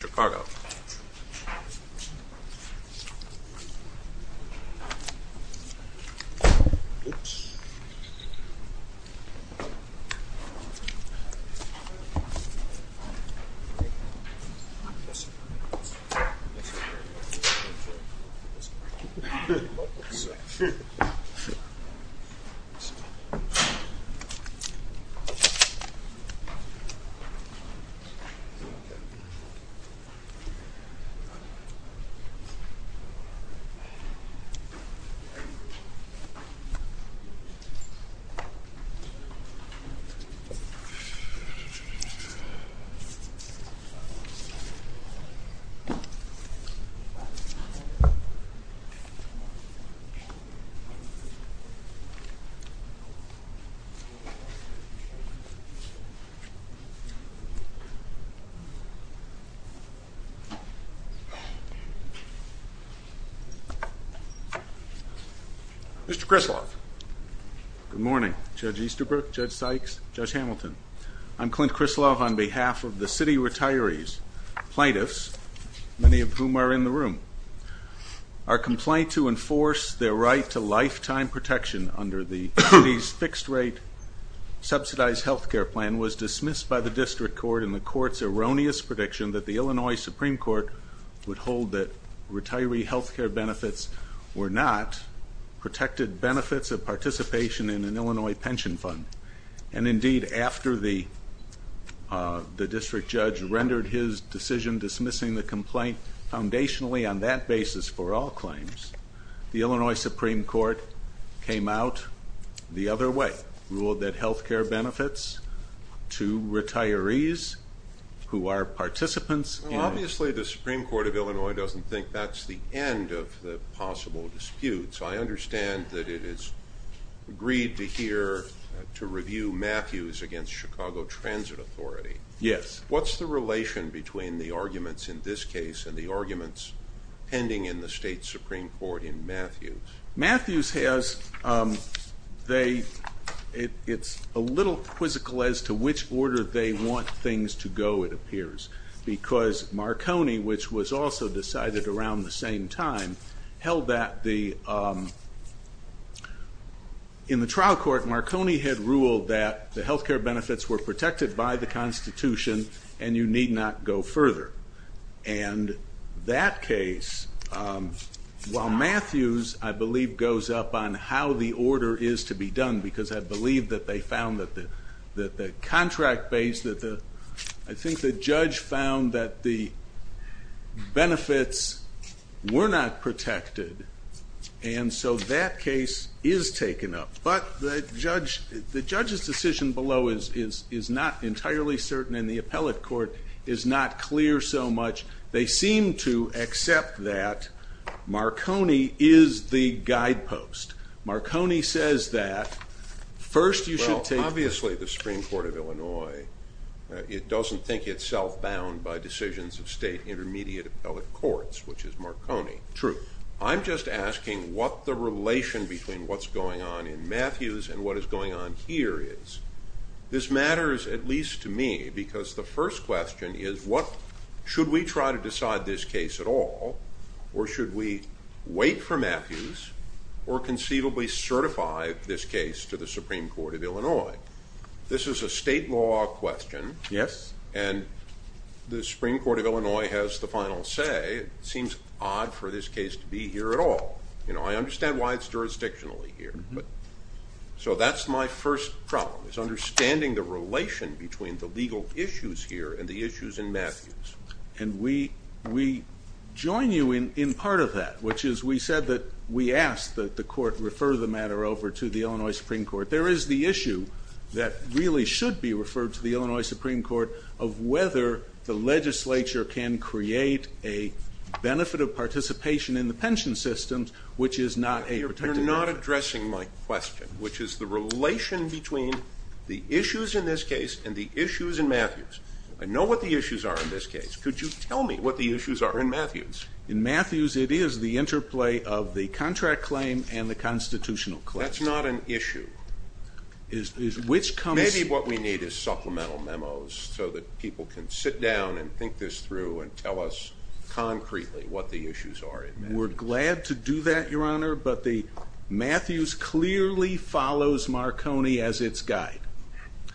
Chicago Mr. Krislav. Good morning. Judge Easterbrook, Judge Sykes, Judge Hamilton. I'm Clint Krislav on behalf of the city retirees, plaintiffs, many of whom are in the room. Our complaint to enforce their right to lifetime protection under the city's fixed rate subsidized health care plan was dismissed by the district court in the court's erroneous prediction that the Illinois Supreme Court would hold that retiree health care benefits were not protected benefits of participation in an Illinois pension fund. And indeed, after the district judge rendered his decision dismissing the complaint foundationally on that basis for all claims, the Illinois Supreme Court came out the other way, ruled that health care benefits to retirees who are participants. Obviously, the Supreme Court of Illinois doesn't think that's the end of the possible dispute. So I understand that it is agreed to hear to review Matthews against Chicago Transit Authority. Yes. What's the relation between the arguments in this case and the arguments pending in the state Supreme Court in Matthews? Matthews has, it's a little quizzical as to which order they want things to go, it appears, because Marconi, which was also decided around the same time, held that in the trial court Marconi had ruled that the health care benefits were protected by the Constitution and you need not go further. And that case, while Matthews, I believe, goes up on how the order is to be done, because I believe that they found that the contract base, I think the judge found that the benefits were not protected and so that case is taken up. But the judge's decision below is not entirely certain and the appellate court is not clear so much. They seem to accept that Marconi is the guidepost. Marconi says that first you should take- it doesn't think it's self-bound by decisions of state intermediate appellate courts, which is Marconi. True. I'm just asking what the relation between what's going on in Matthews and what is going on here is. This matters, at least to me, because the first question is what- should we try to decide this case at all or should we wait for Matthews or conceivably certify this case to the Supreme Court of Illinois? This is a state law question and the Supreme Court of Illinois has the final say. It seems odd for this case to be here at all. I understand why it's jurisdictionally here. So that's my first problem, is understanding the relation between the legal issues here and the issues in Matthews. And we join you in part of that, which is we said that we asked that the court refer the matter over to the Illinois Supreme Court. There is the issue that really should be referred to the Illinois Supreme Court of whether the legislature can create a benefit of participation in the pension system, which is not a protected- You're not addressing my question, which is the relation between the issues in this case and the issues in Matthews. I know what the issues are in this case. Could you tell me what the issues are in Matthews? In Matthews, it is the interplay of the contract claim and the constitutional claim. That's not an issue. Maybe what we need is supplemental memos so that people can sit down and think this through and tell us concretely what the issues are in Matthews. We're glad to do that, Your Honor, but Matthews clearly follows Marconi as its guide.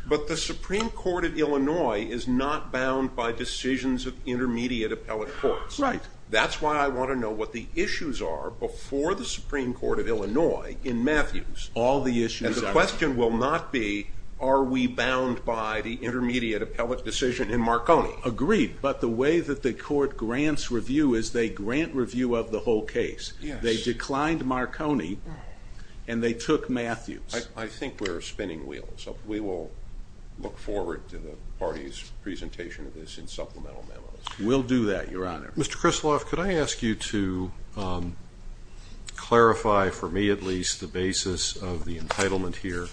But the Supreme Court of Illinois is not bound by decisions of intermediate appellate courts. That's why I want to know what the issues are before the Supreme Court of Illinois in Matthews. And the question will not be are we bound by the intermediate appellate decision in Marconi. Agreed, but the way that the court grants review is they grant review of the whole case. They declined Marconi and they took Matthews. I think we're spinning wheels. We will look forward to the party's presentation of this in supplemental memos. We'll do that, Your Honor. Mr. Krisloff, could I ask you to clarify, for me at least, the basis of the entitlement here?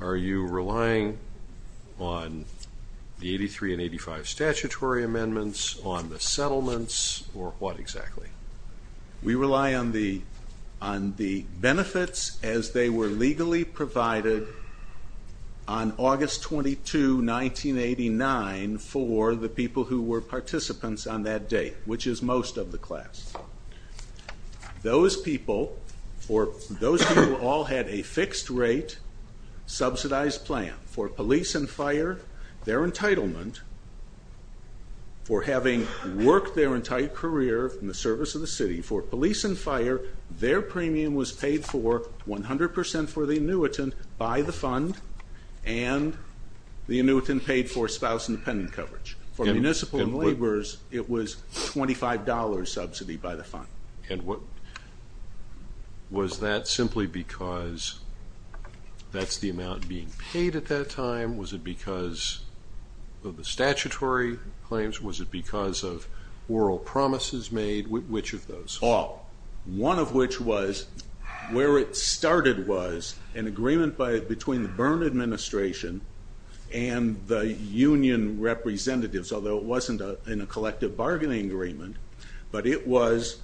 Are you relying on the 83 and 85 statutory amendments, on the settlements, or what exactly? We rely on the benefits as they were legally provided on August 22, 1989, for the people who were participants on that date, which is most of the class. Those people all had a fixed rate subsidized plan for police and fire, their entitlement, for having worked their entire career in the service of the city for police and fire, their premium was paid for 100% for the annuitant by the fund, and the annuitant paid for spouse and dependent coverage. For municipal and laborers, it was $25 subsidy by the fund. And was that simply because that's the amount being paid at that time? Was it because of the statutory claims? Was it because of oral promises made? Which of those? All. One of which was where it started was an agreement between the Byrne administration and the union representatives, although it wasn't in a collective bargaining agreement, but it was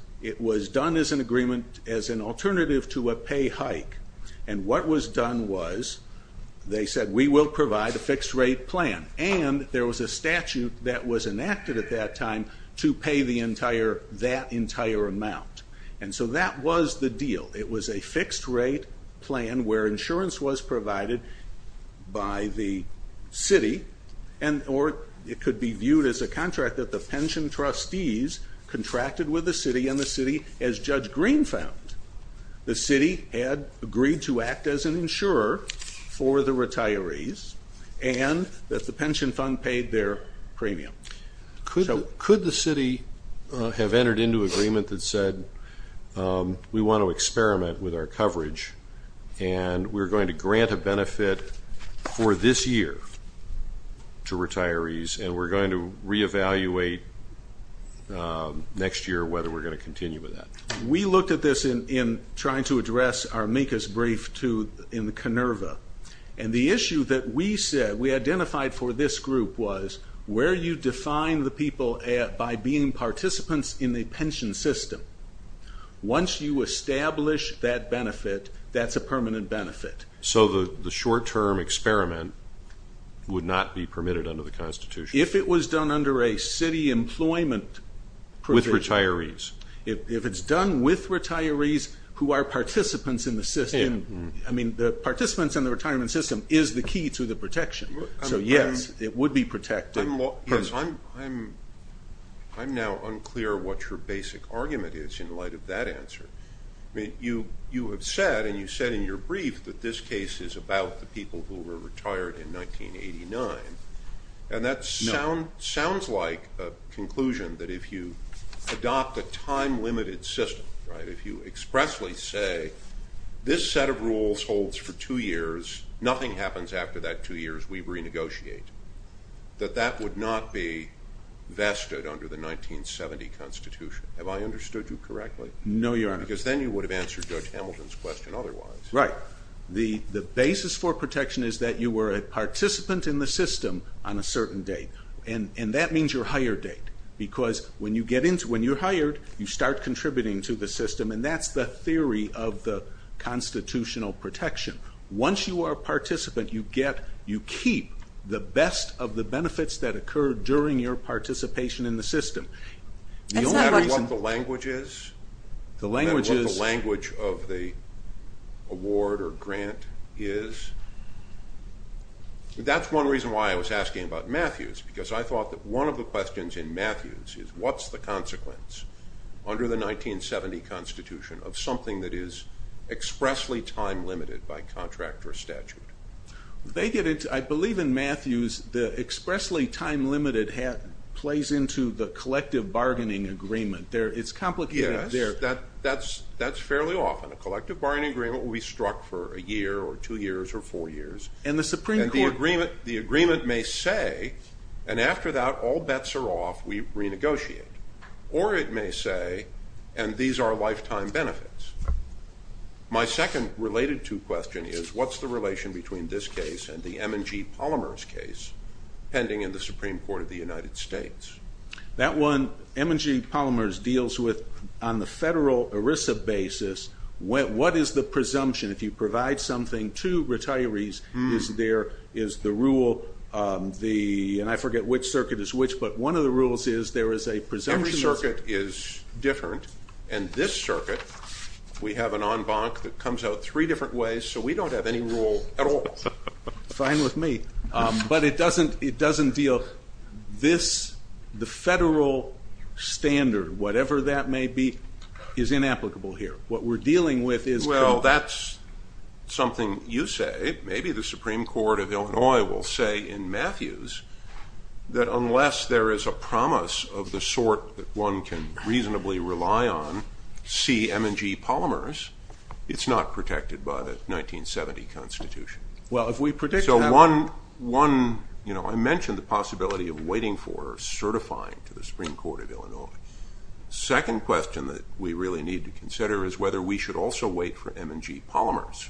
done as an agreement as an alternative to a pay hike. And what was done was, they said, we will provide a fixed rate plan, and there was a statute that was enacted at that time to pay that entire amount. And so that was the deal. It was a fixed rate plan where insurance was provided by the city, or it could be viewed as a contract that the pension trustees contracted with the city, and the city, as Judge Green found, the city had agreed to act as an insurer for the retirees, and that the pension fund paid their premium. Could the city have entered into agreement that said, we want to experiment with our coverage, and we're going to grant a benefit for this year to retirees, and we're going to re-evaluate next year whether we're going to continue with that? We looked at this in trying to address our MECA's brief in the Conerva, and the issue that we said, we identified for this group was, where you define the people by being participants in the pension system. Once you establish that benefit, that's a permanent benefit. So the short-term experiment would not be permitted under the Constitution? If it was done under a city employment provision. With retirees. If it's done with retirees who are participants in the system, I mean the participants in the retirement system is the key to the protection. So yes, it would be protected. I'm now unclear what your basic argument is in light of that answer. You have said, and you said in your brief, that this case is about the people who were retired in 1989, and that sounds like a conclusion that if you adopt a time-limited system, if you expressly say, this set of rules holds for two years, nothing happens after that two years, we renegotiate, that that would not be vested under the 1970 Constitution. Have I understood you correctly? No, Your Honor. Because then you would have answered Judge Hamilton's question otherwise. Right. The basis for protection is that you were a participant in the system on a certain date, and that means your hire date. Because when you're hired, you start contributing to the system, and that's the theory of the constitutional protection. Once you are a participant, you keep the best of the benefits that occurred during your participation in the system. The only matter what the language is, the matter what the language of the award or grant is, that's one reason why I was asking about Matthews, because I thought that one of the questions in Matthews is what's the consequence under the 1970 Constitution of something that is expressly time-limited by contract or statute? I believe in Matthews the expressly time-limited plays into the collective bargaining agreement. It's complicated. Yes, that's fairly often. A collective bargaining agreement will be struck for a year or two years or four years, and the agreement may say, and after that all bets are off, we renegotiate. Or it may say, and these are lifetime benefits. My second related to question is, what's the relation between this case and the M&G Polymers case pending in the Supreme Court of the United States? That one, M&G Polymers deals with on the federal ERISA basis, what is the presumption if you provide something to retirees, is there is the rule, and I forget which circuit is which, but one of the rules is there is a presumption. Every circuit is different, and this circuit, we have an en banc that comes out three different ways, so we don't have any rule at all. Fine with me. But it doesn't deal this, the federal standard, whatever that may be, is inapplicable here. What we're dealing with is. Well, that's something you say, maybe the Supreme Court of Illinois will say in Matthews, that unless there is a promise of the sort that one can reasonably rely on, see M&G Polymers, it's not protected by the 1970 Constitution. Well, if we predict that. So one, I mentioned the possibility of waiting for certifying to the Supreme Court of Illinois. Second question that we really need to consider is whether we should also wait for M&G Polymers.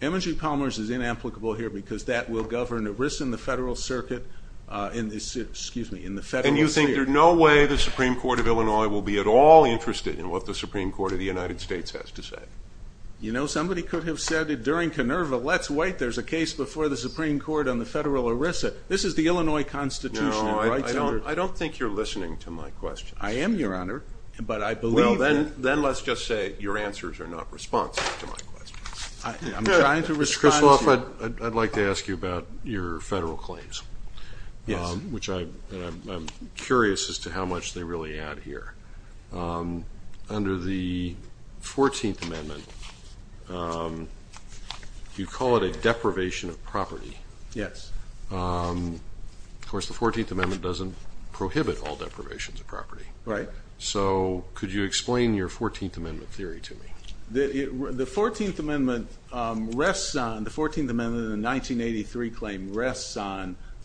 M&G Polymers is inapplicable here because that will govern ERISA in the federal circuit, excuse me, in the federal sphere. And you think there's no way the Supreme Court of Illinois will be at all interested in what the Supreme Court of the United States has to say? You know, somebody could have said it during Canerva, let's wait, there's a case before the Supreme Court on the federal ERISA. This is the Illinois Constitution. No, I don't think you're listening to my questions. I am, Your Honor, but I believe that. Then let's just say your answers are not responsive to my questions. I'm trying to respond to you. Mr. Kristoloff, I'd like to ask you about your federal claims. Yes. Which I'm curious as to how much they really add here. Under the 14th Amendment, you call it a deprivation of property. Yes. Of course, the 14th Amendment doesn't prohibit all deprivations of property. Right. So could you explain your 14th Amendment theory to me? The 14th Amendment rests on the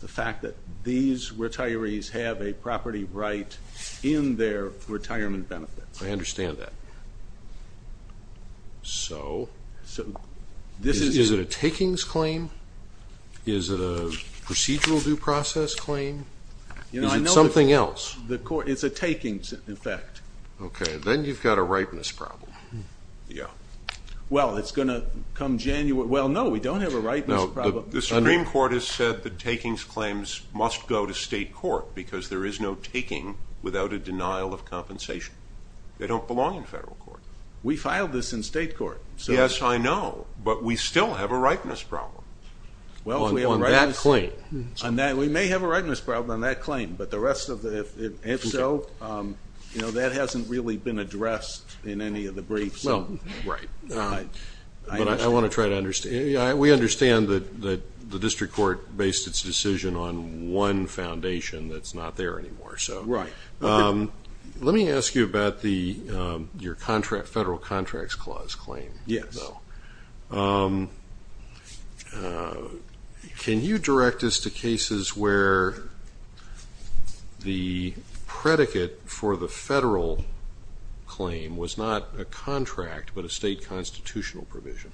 fact that these retirees have a property right in their retirement benefits. I understand that. So is it a takings claim? Is it a procedural due process claim? Is it something else? It's a takings effect. Okay. Then you've got a ripeness problem. Yeah. Well, it's going to come January. Well, no, we don't have a ripeness problem. The Supreme Court has said that takings claims must go to state court because there is no taking without a denial of compensation. They don't belong in federal court. We filed this in state court. Yes, I know, but we still have a ripeness problem. On that claim. We may have a ripeness problem on that claim, but if so, that hasn't really been addressed in any of the briefs. Right. But I want to try to understand. We understand that the district court based its decision on one foundation that's not there anymore. Right. Let me ask you about your Federal Contracts Clause claim. Yes. Can you direct us to cases where the predicate for the federal claim was not a contract but a state constitutional provision?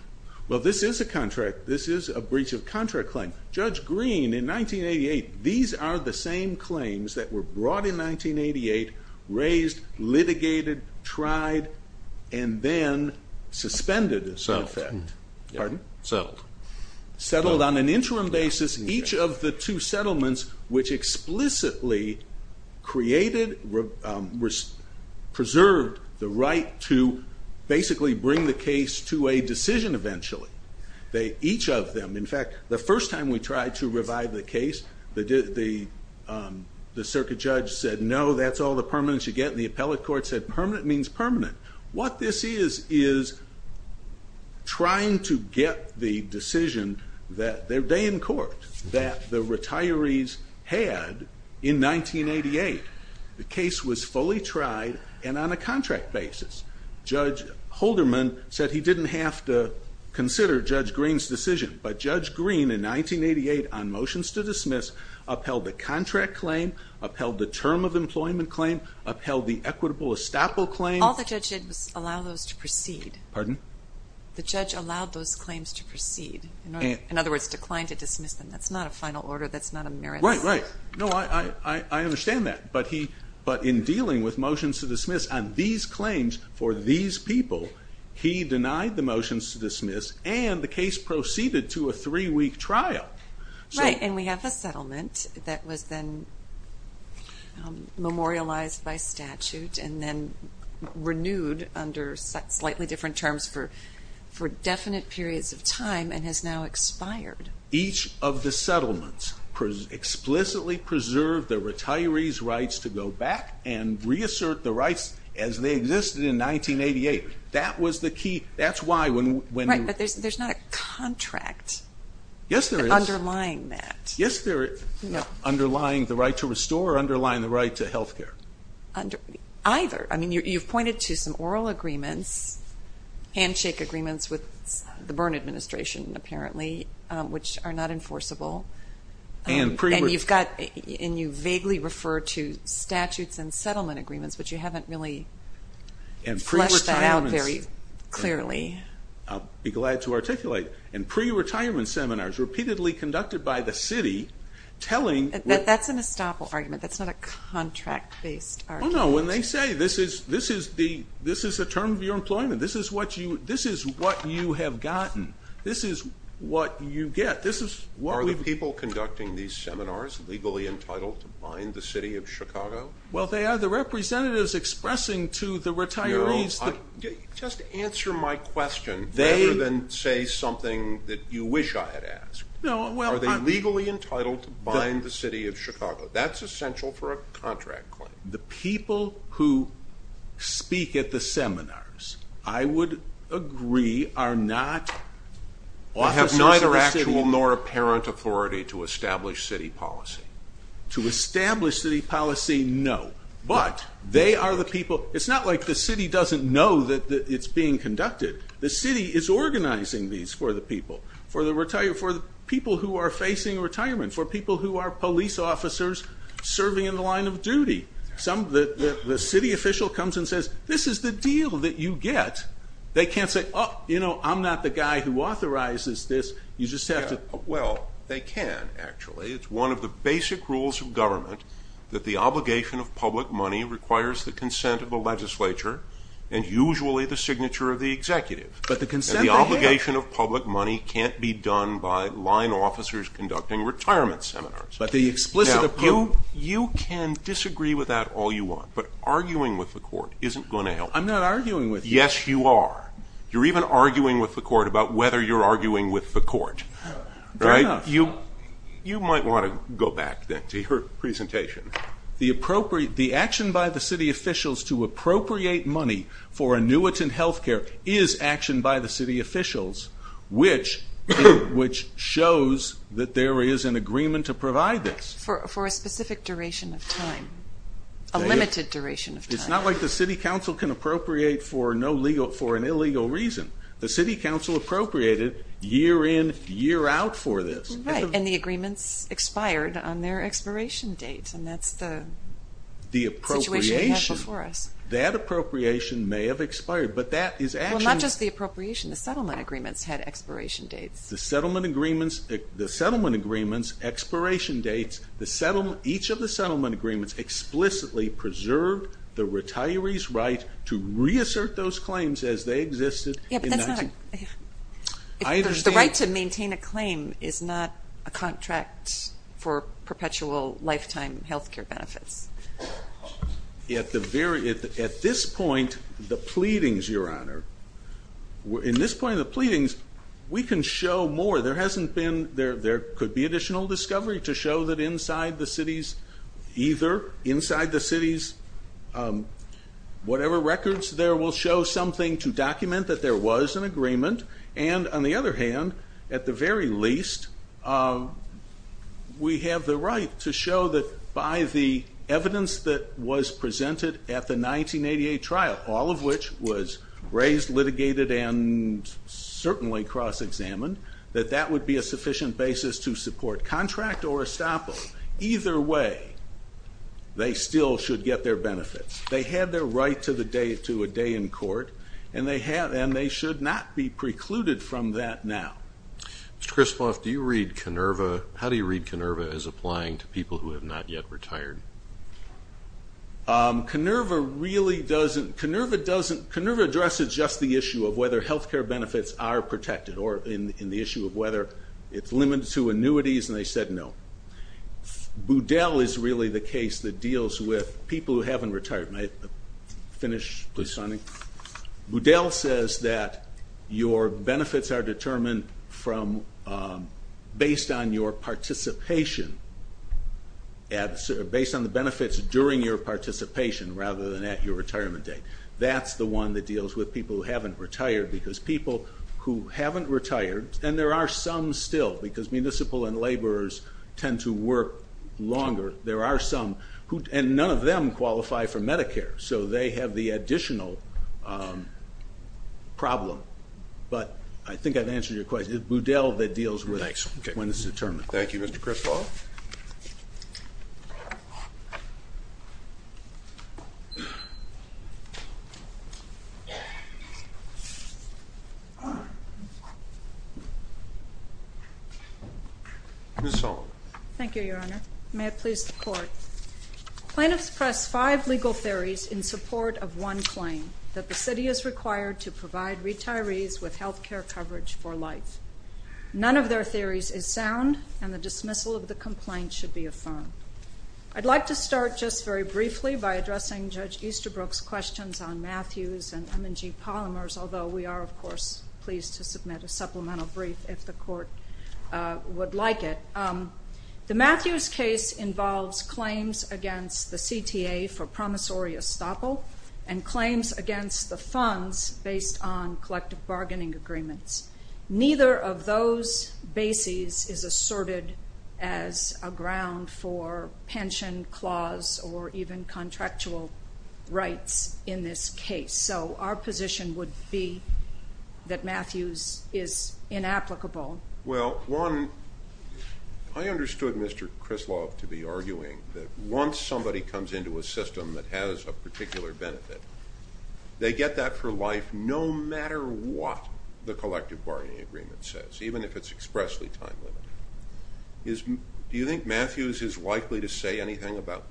Well, this is a contract. This is a breach of contract claim. Judge Green, in 1988, these are the same claims that were brought in 1988, raised, litigated, tried, and then suspended as a matter of fact. Settled. Pardon? Settled. Settled on an interim basis. Each of the two settlements, which explicitly created, preserved the right to basically bring the case to a decision eventually. Each of them. In fact, the first time we tried to revive the case, the circuit judge said, no, that's all the permanents you get. And the appellate court said, permanent means permanent. What this is is trying to get the decision that they in court, that the retirees had in 1988. The case was fully tried and on a contract basis. Judge Holderman said he didn't have to consider Judge Green's decision. But Judge Green, in 1988, on motions to dismiss, upheld the contract claim, upheld the term of employment claim, upheld the equitable estoppel claim. All the judge did was allow those to proceed. Pardon? The judge allowed those claims to proceed. In other words, declined to dismiss them. That's not a final order. That's not a merit. Right, right. No, I understand that. But in dealing with motions to dismiss on these claims for these people, he denied the motions to dismiss, and the case proceeded to a three-week trial. Right, and we have a settlement that was then memorialized by statute and then renewed under slightly different terms for definite periods of time and has now expired. Each of the settlements explicitly preserved the retirees' rights to go back and reassert the rights as they existed in 1988. That was the key. That's why when you... Right, but there's not a contract. Yes, there is. Underlying that. Yes, there is. No. Underlying the right to restore or underlying the right to health care? Either. I mean, you've pointed to some oral agreements, handshake agreements with the Byrne administration, apparently, which are not enforceable. And you've got, and you vaguely refer to statutes and settlement agreements, but you haven't really fleshed that out very clearly. I'll be glad to articulate. And pre-retirement seminars repeatedly conducted by the city telling... That's an estoppel argument. That's not a contract-based argument. No, no, when they say this is a term of your employment, this is what you have gotten, this is what you get. Are the people conducting these seminars legally entitled to find the city of Chicago? Well, they are the representatives expressing to the retirees... Just answer my question rather than say something that you wish I had asked. Are they legally entitled to find the city of Chicago? That's essential for a contract claim. The people who speak at the seminars, I would agree, are not officers of the city. They have neither actual nor apparent authority to establish city policy. To establish city policy, no. But they are the people... It's not like the city doesn't know that it's being conducted. The city is organizing these for the people, for the people who are facing retirement, for people who are police officers serving in the line of duty. The city official comes and says, this is the deal that you get. They can't say, oh, you know, I'm not the guy who authorizes this. You just have to... Well, they can, actually. It's one of the basic rules of government that the obligation of public money requires the consent of the legislature and usually the signature of the executive. But the consent they have... And the obligation of public money can't be done by line officers conducting retirement seminars. But the explicit approval... Now, you can disagree with that all you want, but arguing with the court isn't going to help. I'm not arguing with you. Yes, you are. You're even arguing with the court about whether you're arguing with the court. Fair enough. You might want to go back, then, to your presentation. The action by the city officials to appropriate money for annuitant health care is action by the city officials, which shows that there is an agreement to provide this. For a specific duration of time, a limited duration of time. It's not like the city council can appropriate for an illegal reason. The city council appropriated year in, year out for this. Right, and the agreements expired on their expiration date, and that's the situation we have before us. The appropriation. That appropriation may have expired, but that is action. Well, not just the appropriation. The settlement agreements had expiration dates. The settlement agreements expiration dates. Each of the settlement agreements explicitly preserved the retiree's right to reassert those claims as they existed. The right to maintain a claim is not a contract for perpetual lifetime health care benefits. At this point, the pleadings, Your Honor, in this point of the pleadings, we can show more. There could be additional discovery to show that inside the cities, either inside the cities, whatever records there will show something to document that there was an agreement, and on the other hand, at the very least, we have the right to show that by the evidence that was presented at the 1988 trial, all of which was raised, litigated, and certainly cross-examined, that that would be a sufficient basis to support contract or estoppel. Either way, they still should get their benefits. They had their right to a day in court, and they should not be precluded from that now. Mr. Christoff, do you read KINERVA, how do you read KINERVA as applying to people who have not yet retired? KINERVA really doesn't. KINERVA doesn't. KINERVA addresses just the issue of whether health care benefits are protected or in the issue of whether it's limited to annuities, and they said no. Boudel is really the case that deals with people who haven't retired. May I finish, please, Sonny? Boudel says that your benefits are determined based on your participation, based on the benefits during your participation rather than at your retirement date. That's the one that deals with people who haven't retired, because people who haven't retired, and there are some still, because municipal and laborers tend to work longer. There are some, and none of them qualify for Medicare, so they have the additional problem. But I think I've answered your question. It's Boudel that deals with when it's determined. Thank you, Mr. Christoff. Ms. Sullivan. Thank you, Your Honor. May it please the Court. Plaintiffs press five legal theories in support of one claim, that the city is required to provide retirees with health care coverage for life. None of their theories is sound, and the dismissal of the complaint should be affirmed. I'd like to start just very briefly by addressing Judge Easterbrook's questions on Matthews and M&G polymers, although we are, of course, pleased to submit a supplemental brief if the Court would like it. The Matthews case involves claims against the CTA for promissory estoppel and claims against the funds based on collective bargaining agreements. Neither of those bases is asserted as a ground for pension clause or even contractual rights in this case. So our position would be that Matthews is inapplicable. Well, one, I understood Mr. Christoff to be arguing that once somebody comes into a system that has a particular benefit, they get that for life no matter what the collective bargaining agreement says, even if it's expressly time-limited. Do you think Matthews is likely to say anything about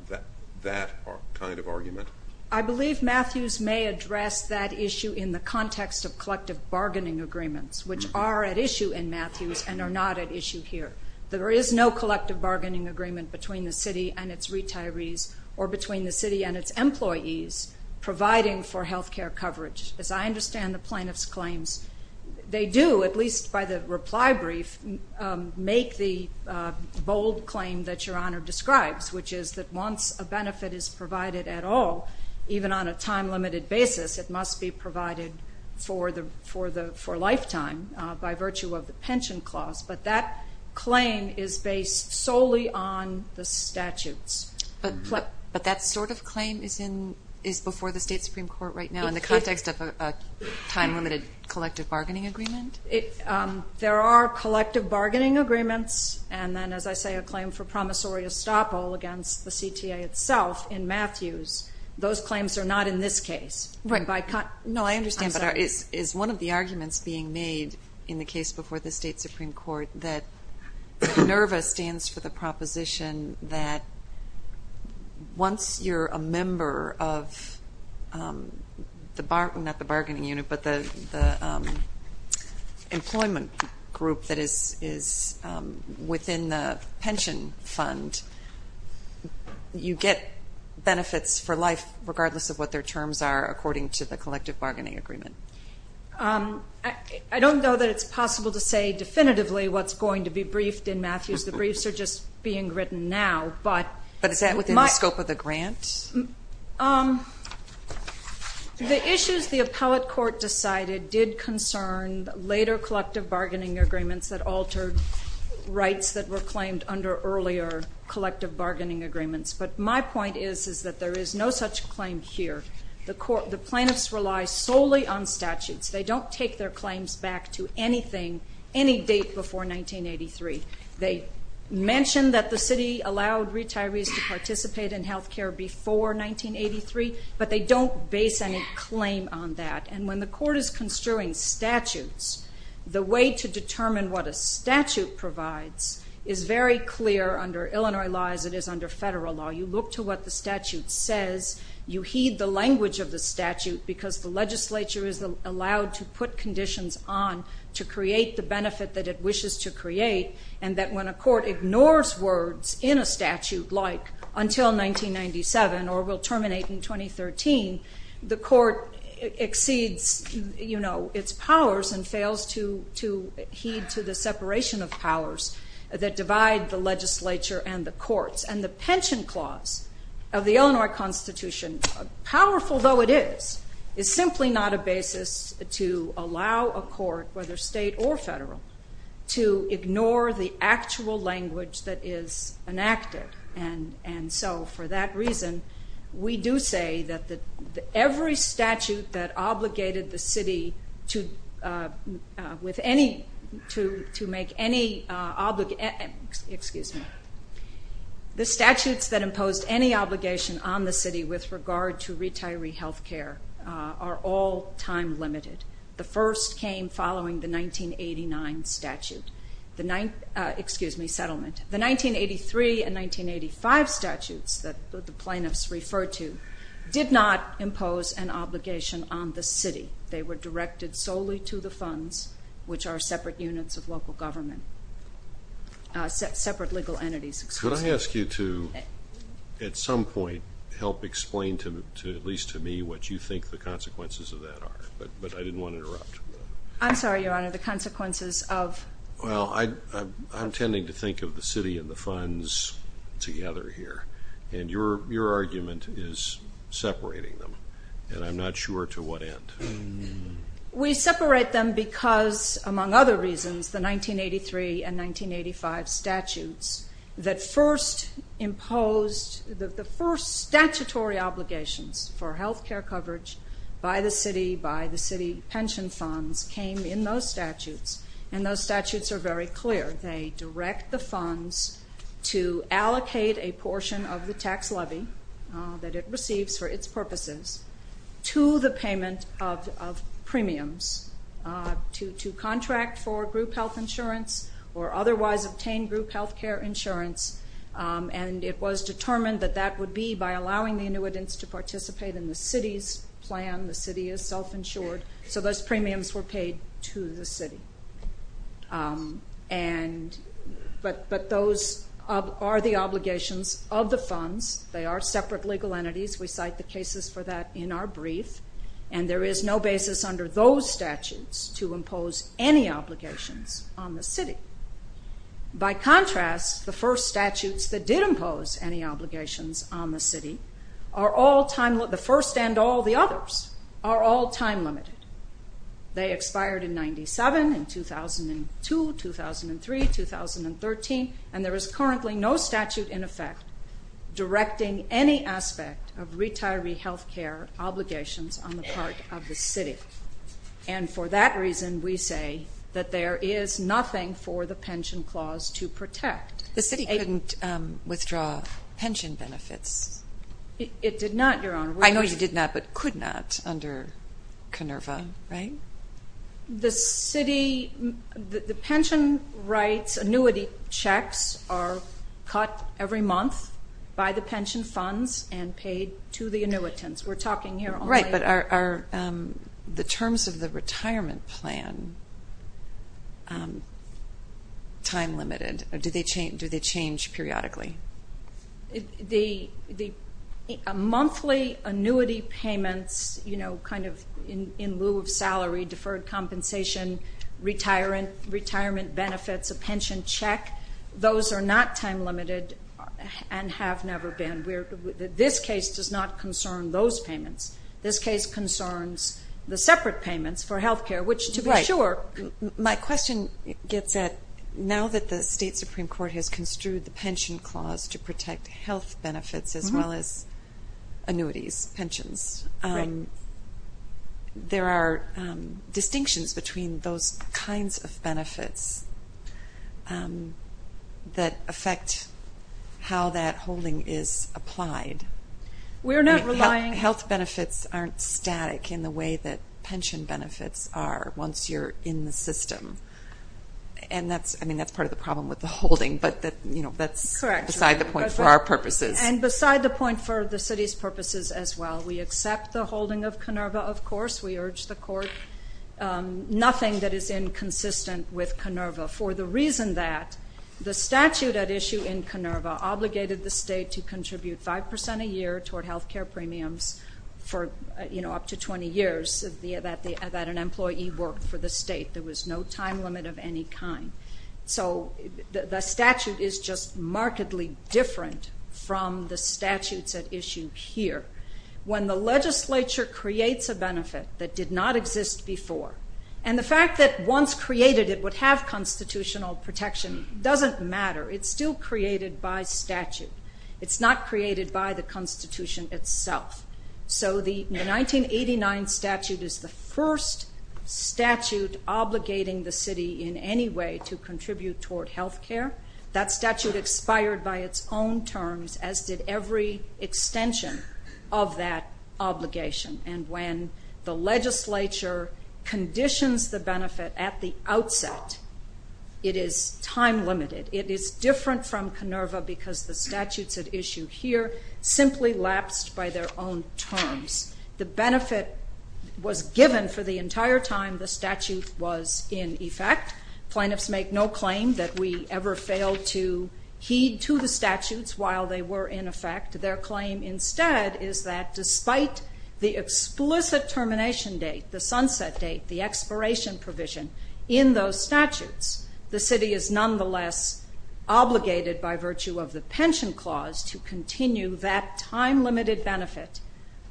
that kind of argument? I believe Matthews may address that issue in the context of collective bargaining agreements, which are at issue in Matthews and are not at issue here. There is no collective bargaining agreement between the city and its retirees or between the city and its employees providing for health care coverage. As I understand the plaintiff's claims, they do, at least by the reply brief, make the bold claim that Your Honor describes, which is that once a benefit is provided at all, even on a time-limited basis, it must be provided for lifetime by virtue of the pension clause. But that claim is based solely on the statutes. But that sort of claim is before the State Supreme Court right now in the context of a time-limited collective bargaining agreement? There are collective bargaining agreements and then, as I say, a claim for promissory estoppel against the CTA itself in Matthews. Those claims are not in this case. No, I understand, but is one of the arguments being made in the case before the State Supreme Court that NERVA stands for the proposition that once you're a member of the bargaining unit, but the employment group that is within the pension fund, you get benefits for life regardless of what their terms are according to the collective bargaining agreement? I don't know that it's possible to say definitively what's going to be briefed in Matthews. The briefs are just being written now. But is that within the scope of the grant? The issues the appellate court decided did concern later collective bargaining agreements that altered rights that were claimed under earlier collective bargaining agreements. But my point is that there is no such claim here. The plaintiffs rely solely on statutes. They don't take their claims back to anything, any date before 1983. They mention that the city allowed retirees to participate in health care before 1983, but they don't base any claim on that. And when the court is construing statutes, the way to determine what a statute provides is very clear under Illinois law as it is under federal law. You look to what the statute says. You heed the language of the statute because the legislature is allowed to put conditions on to create the benefit that it wishes to create, and that when a court ignores words in a statute like until 1997 or will terminate in 2013, the court exceeds its powers and fails to heed to the separation of powers that divide the legislature and the courts. And the pension clause of the Illinois Constitution, powerful though it is, is simply not a basis to allow a court, whether state or federal, to ignore the actual language that is enacted. And so for that reason, we do say that every statute that obligated the city to make any obligation, excuse me, The statutes that imposed any obligation on the city with regard to retiree health care are all time limited. The first came following the 1989 statute, excuse me, settlement. The 1983 and 1985 statutes that the plaintiffs referred to did not impose an obligation on the city. They were directed solely to the funds, which are separate units of local government, separate legal entities, excuse me. Could I ask you to, at some point, help explain to me what you think the consequences of that are? But I didn't want to interrupt. I'm sorry, Your Honor, the consequences of? Well, I'm tending to think of the city and the funds together here, and your argument is separating them, and I'm not sure to what end. We separate them because, among other reasons, the 1983 and 1985 statutes that first imposed, the first statutory obligations for health care coverage by the city, by the city pension funds, came in those statutes, and those statutes are very clear. They direct the funds to allocate a portion of the tax levy that it receives for its purposes to the payment of premiums to contract for group health insurance or otherwise obtain group health care insurance, and it was determined that that would be by allowing the annuitants to participate in the city's plan. The city is self-insured, so those premiums were paid to the city. But those are the obligations of the funds. They are separate legal entities. We cite the cases for that in our brief, and there is no basis under those statutes to impose any obligations on the city. By contrast, the first statutes that did impose any obligations on the city are all time-limited. The first and all the others are all time-limited. They expired in 97, in 2002, 2003, 2013, and there is currently no statute in effect directing any aspect of retiree health care obligations on the part of the city. And for that reason, we say that there is nothing for the pension clause to protect. The city couldn't withdraw pension benefits. It did not, Your Honor. I know you did not, but could not under KONERVA, right? The city, the pension rights, annuity checks are cut every month by the pension funds and paid to the annuitants. We're talking here only. Right, but are the terms of the retirement plan time-limited? Do they change periodically? The monthly annuity payments, you know, kind of in lieu of salary, deferred compensation, retirement benefits, a pension check, those are not time-limited and have never been. This case does not concern those payments. This case concerns the separate payments for health care, which to be sure. My question gets at, now that the state Supreme Court has construed the pension clause to protect health benefits as well as annuities, pensions, there are distinctions between those kinds of benefits that affect how that holding is applied. We're not relying. Health benefits aren't static in the way that pension benefits are once you're in the system, and that's part of the problem with the holding, but that's beside the point for our purposes. And beside the point for the city's purposes as well. We accept the holding of KONERVA, of course. We urge the court. Nothing that is inconsistent with KONERVA for the reason that the statute at issue in KONERVA obligated the state to contribute 5% a year toward health care premiums for up to 20 years that an employee worked for the state. There was no time limit of any kind. So the statute is just markedly different from the statutes at issue here. When the legislature creates a benefit that did not exist before, and the fact that once created it would have constitutional protection doesn't matter. It's still created by statute. It's not created by the Constitution itself. So the 1989 statute is the first statute obligating the city in any way to contribute toward health care. That statute expired by its own terms, as did every extension of that obligation. And when the legislature conditions the benefit at the outset, it is time limited. It is different from KONERVA because the statutes at issue here simply lapsed by their own terms. The benefit was given for the entire time the statute was in effect. Plaintiffs make no claim that we ever failed to heed to the statutes while they were in effect. Their claim instead is that despite the explicit termination date, the sunset date, the expiration provision in those statutes, the city is nonetheless obligated by virtue of the pension clause to continue that time-limited benefit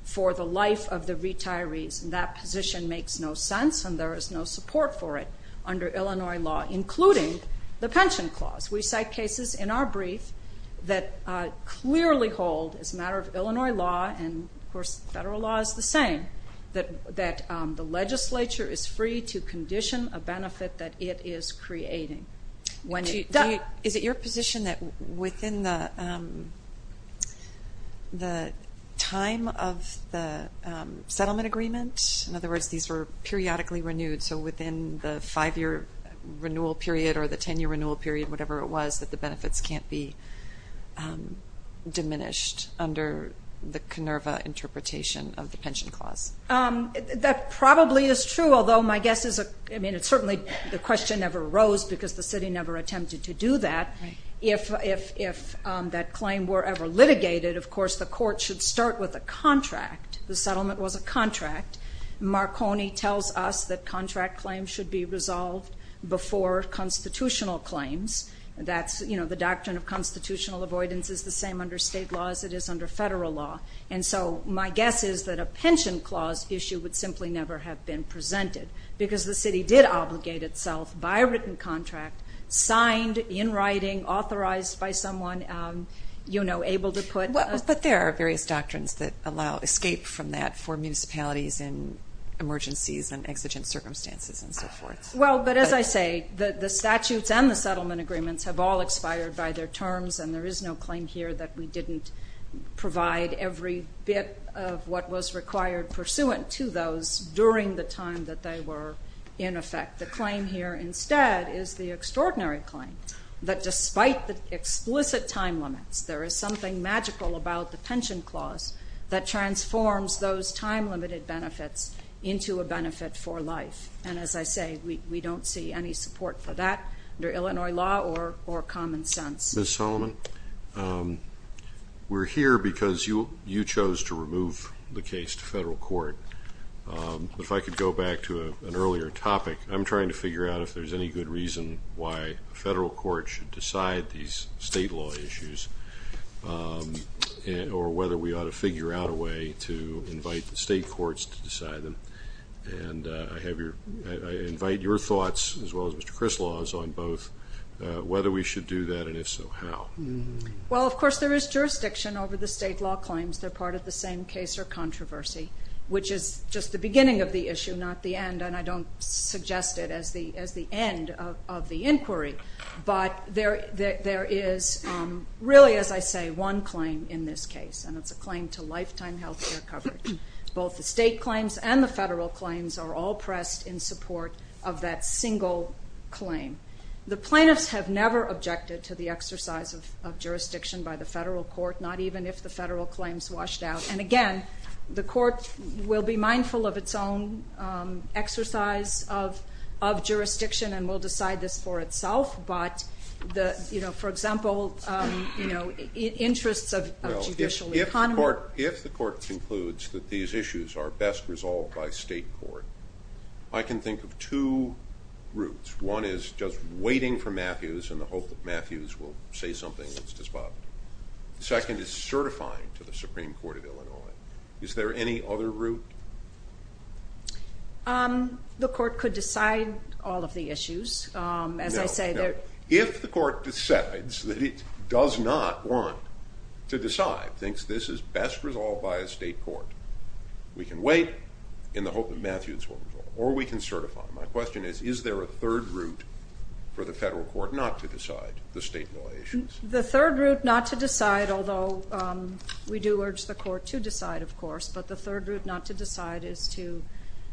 for the life of the retirees. And that position makes no sense, and there is no support for it under Illinois law, including the pension clause. We cite cases in our brief that clearly hold, as a matter of Illinois law, and of course federal law is the same, that the legislature is free to condition a benefit that it is creating. Is it your position that within the time of the settlement agreement, in other words, these were periodically renewed, so within the five-year renewal period or the ten-year renewal period, whatever it was, that the benefits can't be diminished under the KINERVA interpretation of the pension clause? That probably is true, although my guess is certainly the question never arose because the city never attempted to do that. If that claim were ever litigated, of course the court should start with a contract. The settlement was a contract. Marconi tells us that contract claims should be resolved before constitutional claims. That's, you know, the doctrine of constitutional avoidance is the same under state law as it is under federal law. And so my guess is that a pension clause issue would simply never have been presented because the city did obligate itself by written contract, signed, in writing, authorized by someone, you know, able to put... But there are various doctrines that allow escape from that for municipalities in emergencies and exigent circumstances and so forth. Well, but as I say, the statutes and the settlement agreements have all expired by their terms and there is no claim here that we didn't provide every bit of what was required pursuant to those during the time that they were in effect. The claim here instead is the extraordinary claim that despite the explicit time limits, there is something magical about the pension clause that transforms those time-limited benefits into a benefit for life. And as I say, we don't see any support for that under Illinois law or common sense. Ms. Solomon, we're here because you chose to remove the case to federal court. If I could go back to an earlier topic, I'm trying to figure out if there's any good reason why a federal court should decide these state law issues or whether we ought to figure out a way to invite the state courts to decide them. And I invite your thoughts as well as Mr. Crislaw's on both whether we should do that and if so, how. Well, of course, there is jurisdiction over the state law claims. They're part of the same case or controversy, which is just the beginning of the issue, not the end, and I don't suggest it as the end of the inquiry. But there is really, as I say, one claim in this case, and it's a claim to lifetime health care coverage. Both the state claims and the federal claims are all pressed in support of that single claim. The plaintiffs have never objected to the exercise of jurisdiction by the federal court, not even if the federal claims washed out. And again, the court will be mindful of its own exercise of jurisdiction and will decide this for itself. But, you know, for example, interests of judicial economy. If the court concludes that these issues are best resolved by state court, I can think of two routes. One is just waiting for Matthews in the hope that Matthews will say something that's despotic. The second is certifying to the Supreme Court of Illinois. Is there any other route? The court could decide all of the issues, as I say. If the court decides that it does not want to decide, thinks this is best resolved by a state court, we can wait in the hope that Matthews will resolve it, or we can certify. My question is, is there a third route for the federal court not to decide the state law issues? The third route not to decide, although we do urge the court to decide, of course, but the third route not to decide is to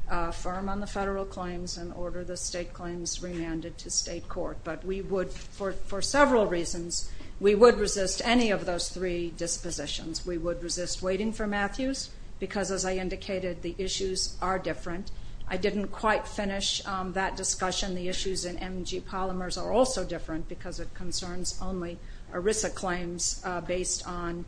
affirm on the federal claims and order the state claims remanded to state court. But we would, for several reasons, we would resist any of those three dispositions. We would resist waiting for Matthews because, as I indicated, the issues are different. I didn't quite finish that discussion. The issues in MG Polymers are also different because it concerns only ERISA claims based on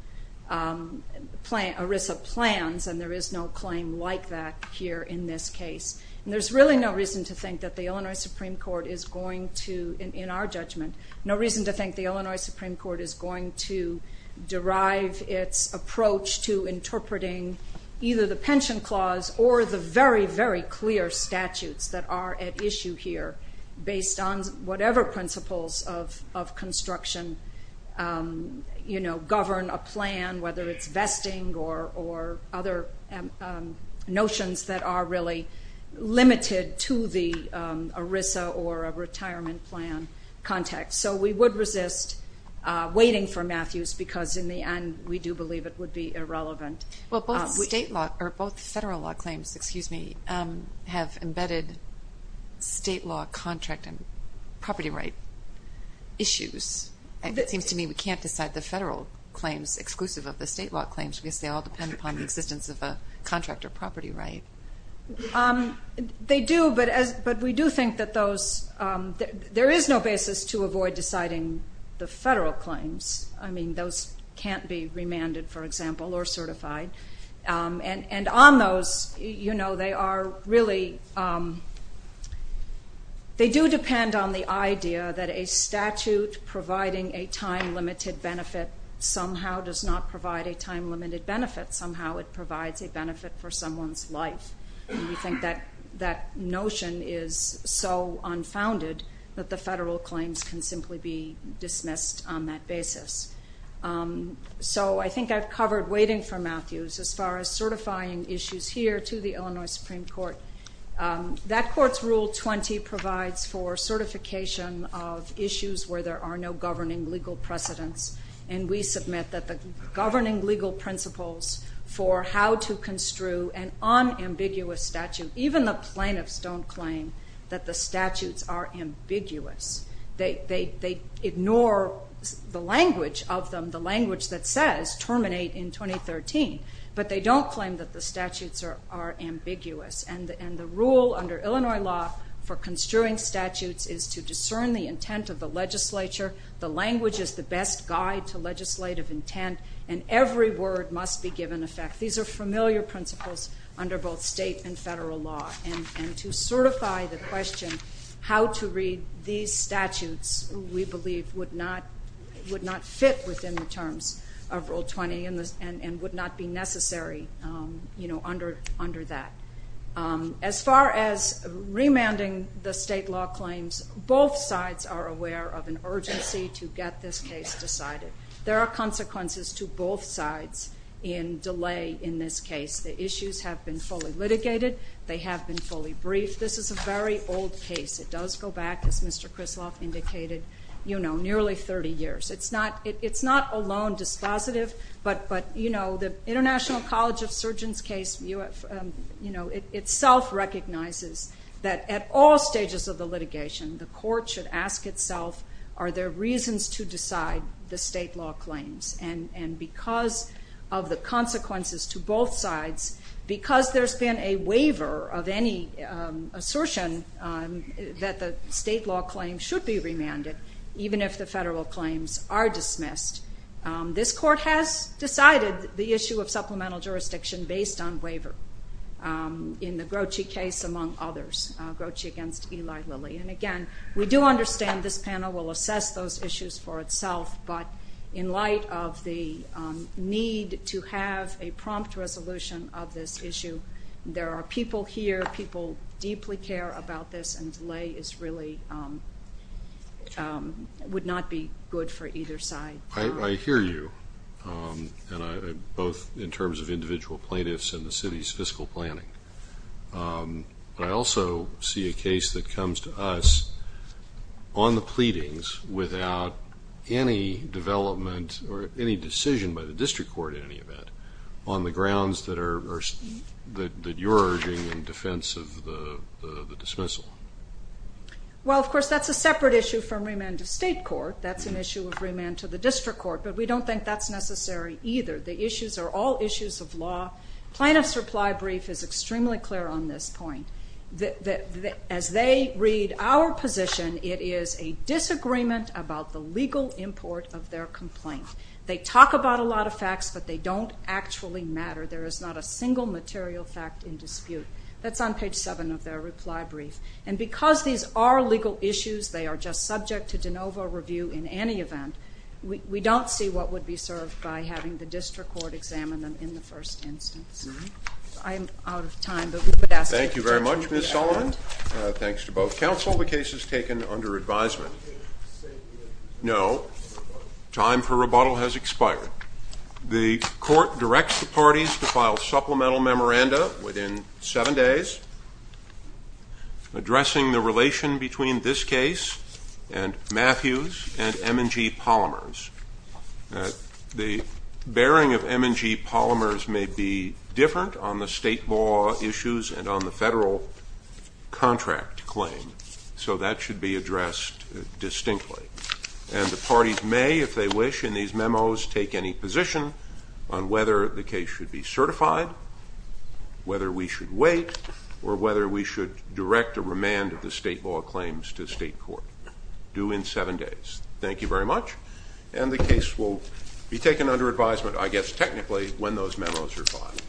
ERISA plans, and there is no claim like that here in this case. And there's really no reason to think that the Illinois Supreme Court is going to, in our judgment, no reason to think the Illinois Supreme Court is going to derive its approach to interpreting either the pension clause or the very, very clear statutes that are at issue here based on whatever principles of construction govern a plan, whether it's vesting or other notions that are really limited to the ERISA or a retirement plan context. So we would resist waiting for Matthews because, in the end, we do believe it would be irrelevant. Well, both federal law claims have embedded state law contract and property right issues. It seems to me we can't decide the federal claims exclusive of the state law claims because they all depend upon the existence of a contract or property right. They do, but we do think that there is no basis to avoid deciding the federal claims. I mean, those can't be remanded, for example, or certified. And on those, they do depend on the idea that a statute providing a time-limited benefit somehow does not provide a time-limited benefit. Somehow it provides a benefit for someone's life. And we think that notion is so unfounded that the federal claims can simply be dismissed on that basis. So I think I've covered waiting for Matthews as far as certifying issues here to the Illinois Supreme Court. That court's Rule 20 provides for certification of issues where there are no governing legal precedents. And we submit that the governing legal principles for how to construe an unambiguous statute, even the plaintiffs don't claim that the statutes are ambiguous. They ignore the language of them, the language that says terminate in 2013. But they don't claim that the statutes are ambiguous. And the rule under Illinois law for construing statutes is to discern the intent of the legislature. The language is the best guide to legislative intent, and every word must be given effect. These are familiar principles under both state and federal law. And to certify the question how to read these statutes we believe would not fit within the terms of Rule 20 and would not be necessary under that. As far as remanding the state law claims, both sides are aware of an urgency to get this case decided. There are consequences to both sides in delay in this case. The issues have been fully litigated. They have been fully briefed. This is a very old case. It does go back, as Mr. Krisloff indicated, nearly 30 years. It's not a lone dispositive. But the International College of Surgeons case itself recognizes that at all stages of the litigation, the court should ask itself are there reasons to decide the state law claims. And because of the consequences to both sides, because there's been a waiver of any assertion that the state law claims should be remanded, even if the federal claims are dismissed, this court has decided the issue of supplemental jurisdiction based on waiver in the Grochi case, among others. Grochi against Eli Lilly. And, again, we do understand this panel will assess those issues for itself. But in light of the need to have a prompt resolution of this issue, there are people here, people deeply care about this, and delay would not be good for either side. I hear you, both in terms of individual plaintiffs and the city's fiscal planning. I also see a case that comes to us on the pleadings without any development or any decision by the district court in any event on the grounds that you're urging in defense of the dismissal. Well, of course, that's a separate issue from remand to state court. That's an issue of remand to the district court. But we don't think that's necessary either. The issues are all issues of law. Plaintiff's reply brief is extremely clear on this point. As they read our position, it is a disagreement about the legal import of their complaint. They talk about a lot of facts, but they don't actually matter. There is not a single material fact in dispute. That's on page 7 of their reply brief. And because these are legal issues, they are just subject to de novo review in any event. We don't see what would be served by having the district court examine them in the first instance. I'm out of time. Thank you very much, Ms. Sullivan. Thanks to both counsel. The case is taken under advisement. No. Time for rebuttal has expired. The court directs the parties to file supplemental memoranda within seven days. Addressing the relation between this case and Matthews and M&G Polymers. The bearing of M&G Polymers may be different on the state law issues and on the federal contract claim. So that should be addressed distinctly. And the parties may, if they wish, in these memos, take any position on whether the case should be certified, whether we should wait, or whether we should direct a remand of the state law claims to state court. Due in seven days. Thank you very much. And the case will be taken under advisement, I guess technically, when those memos are filed.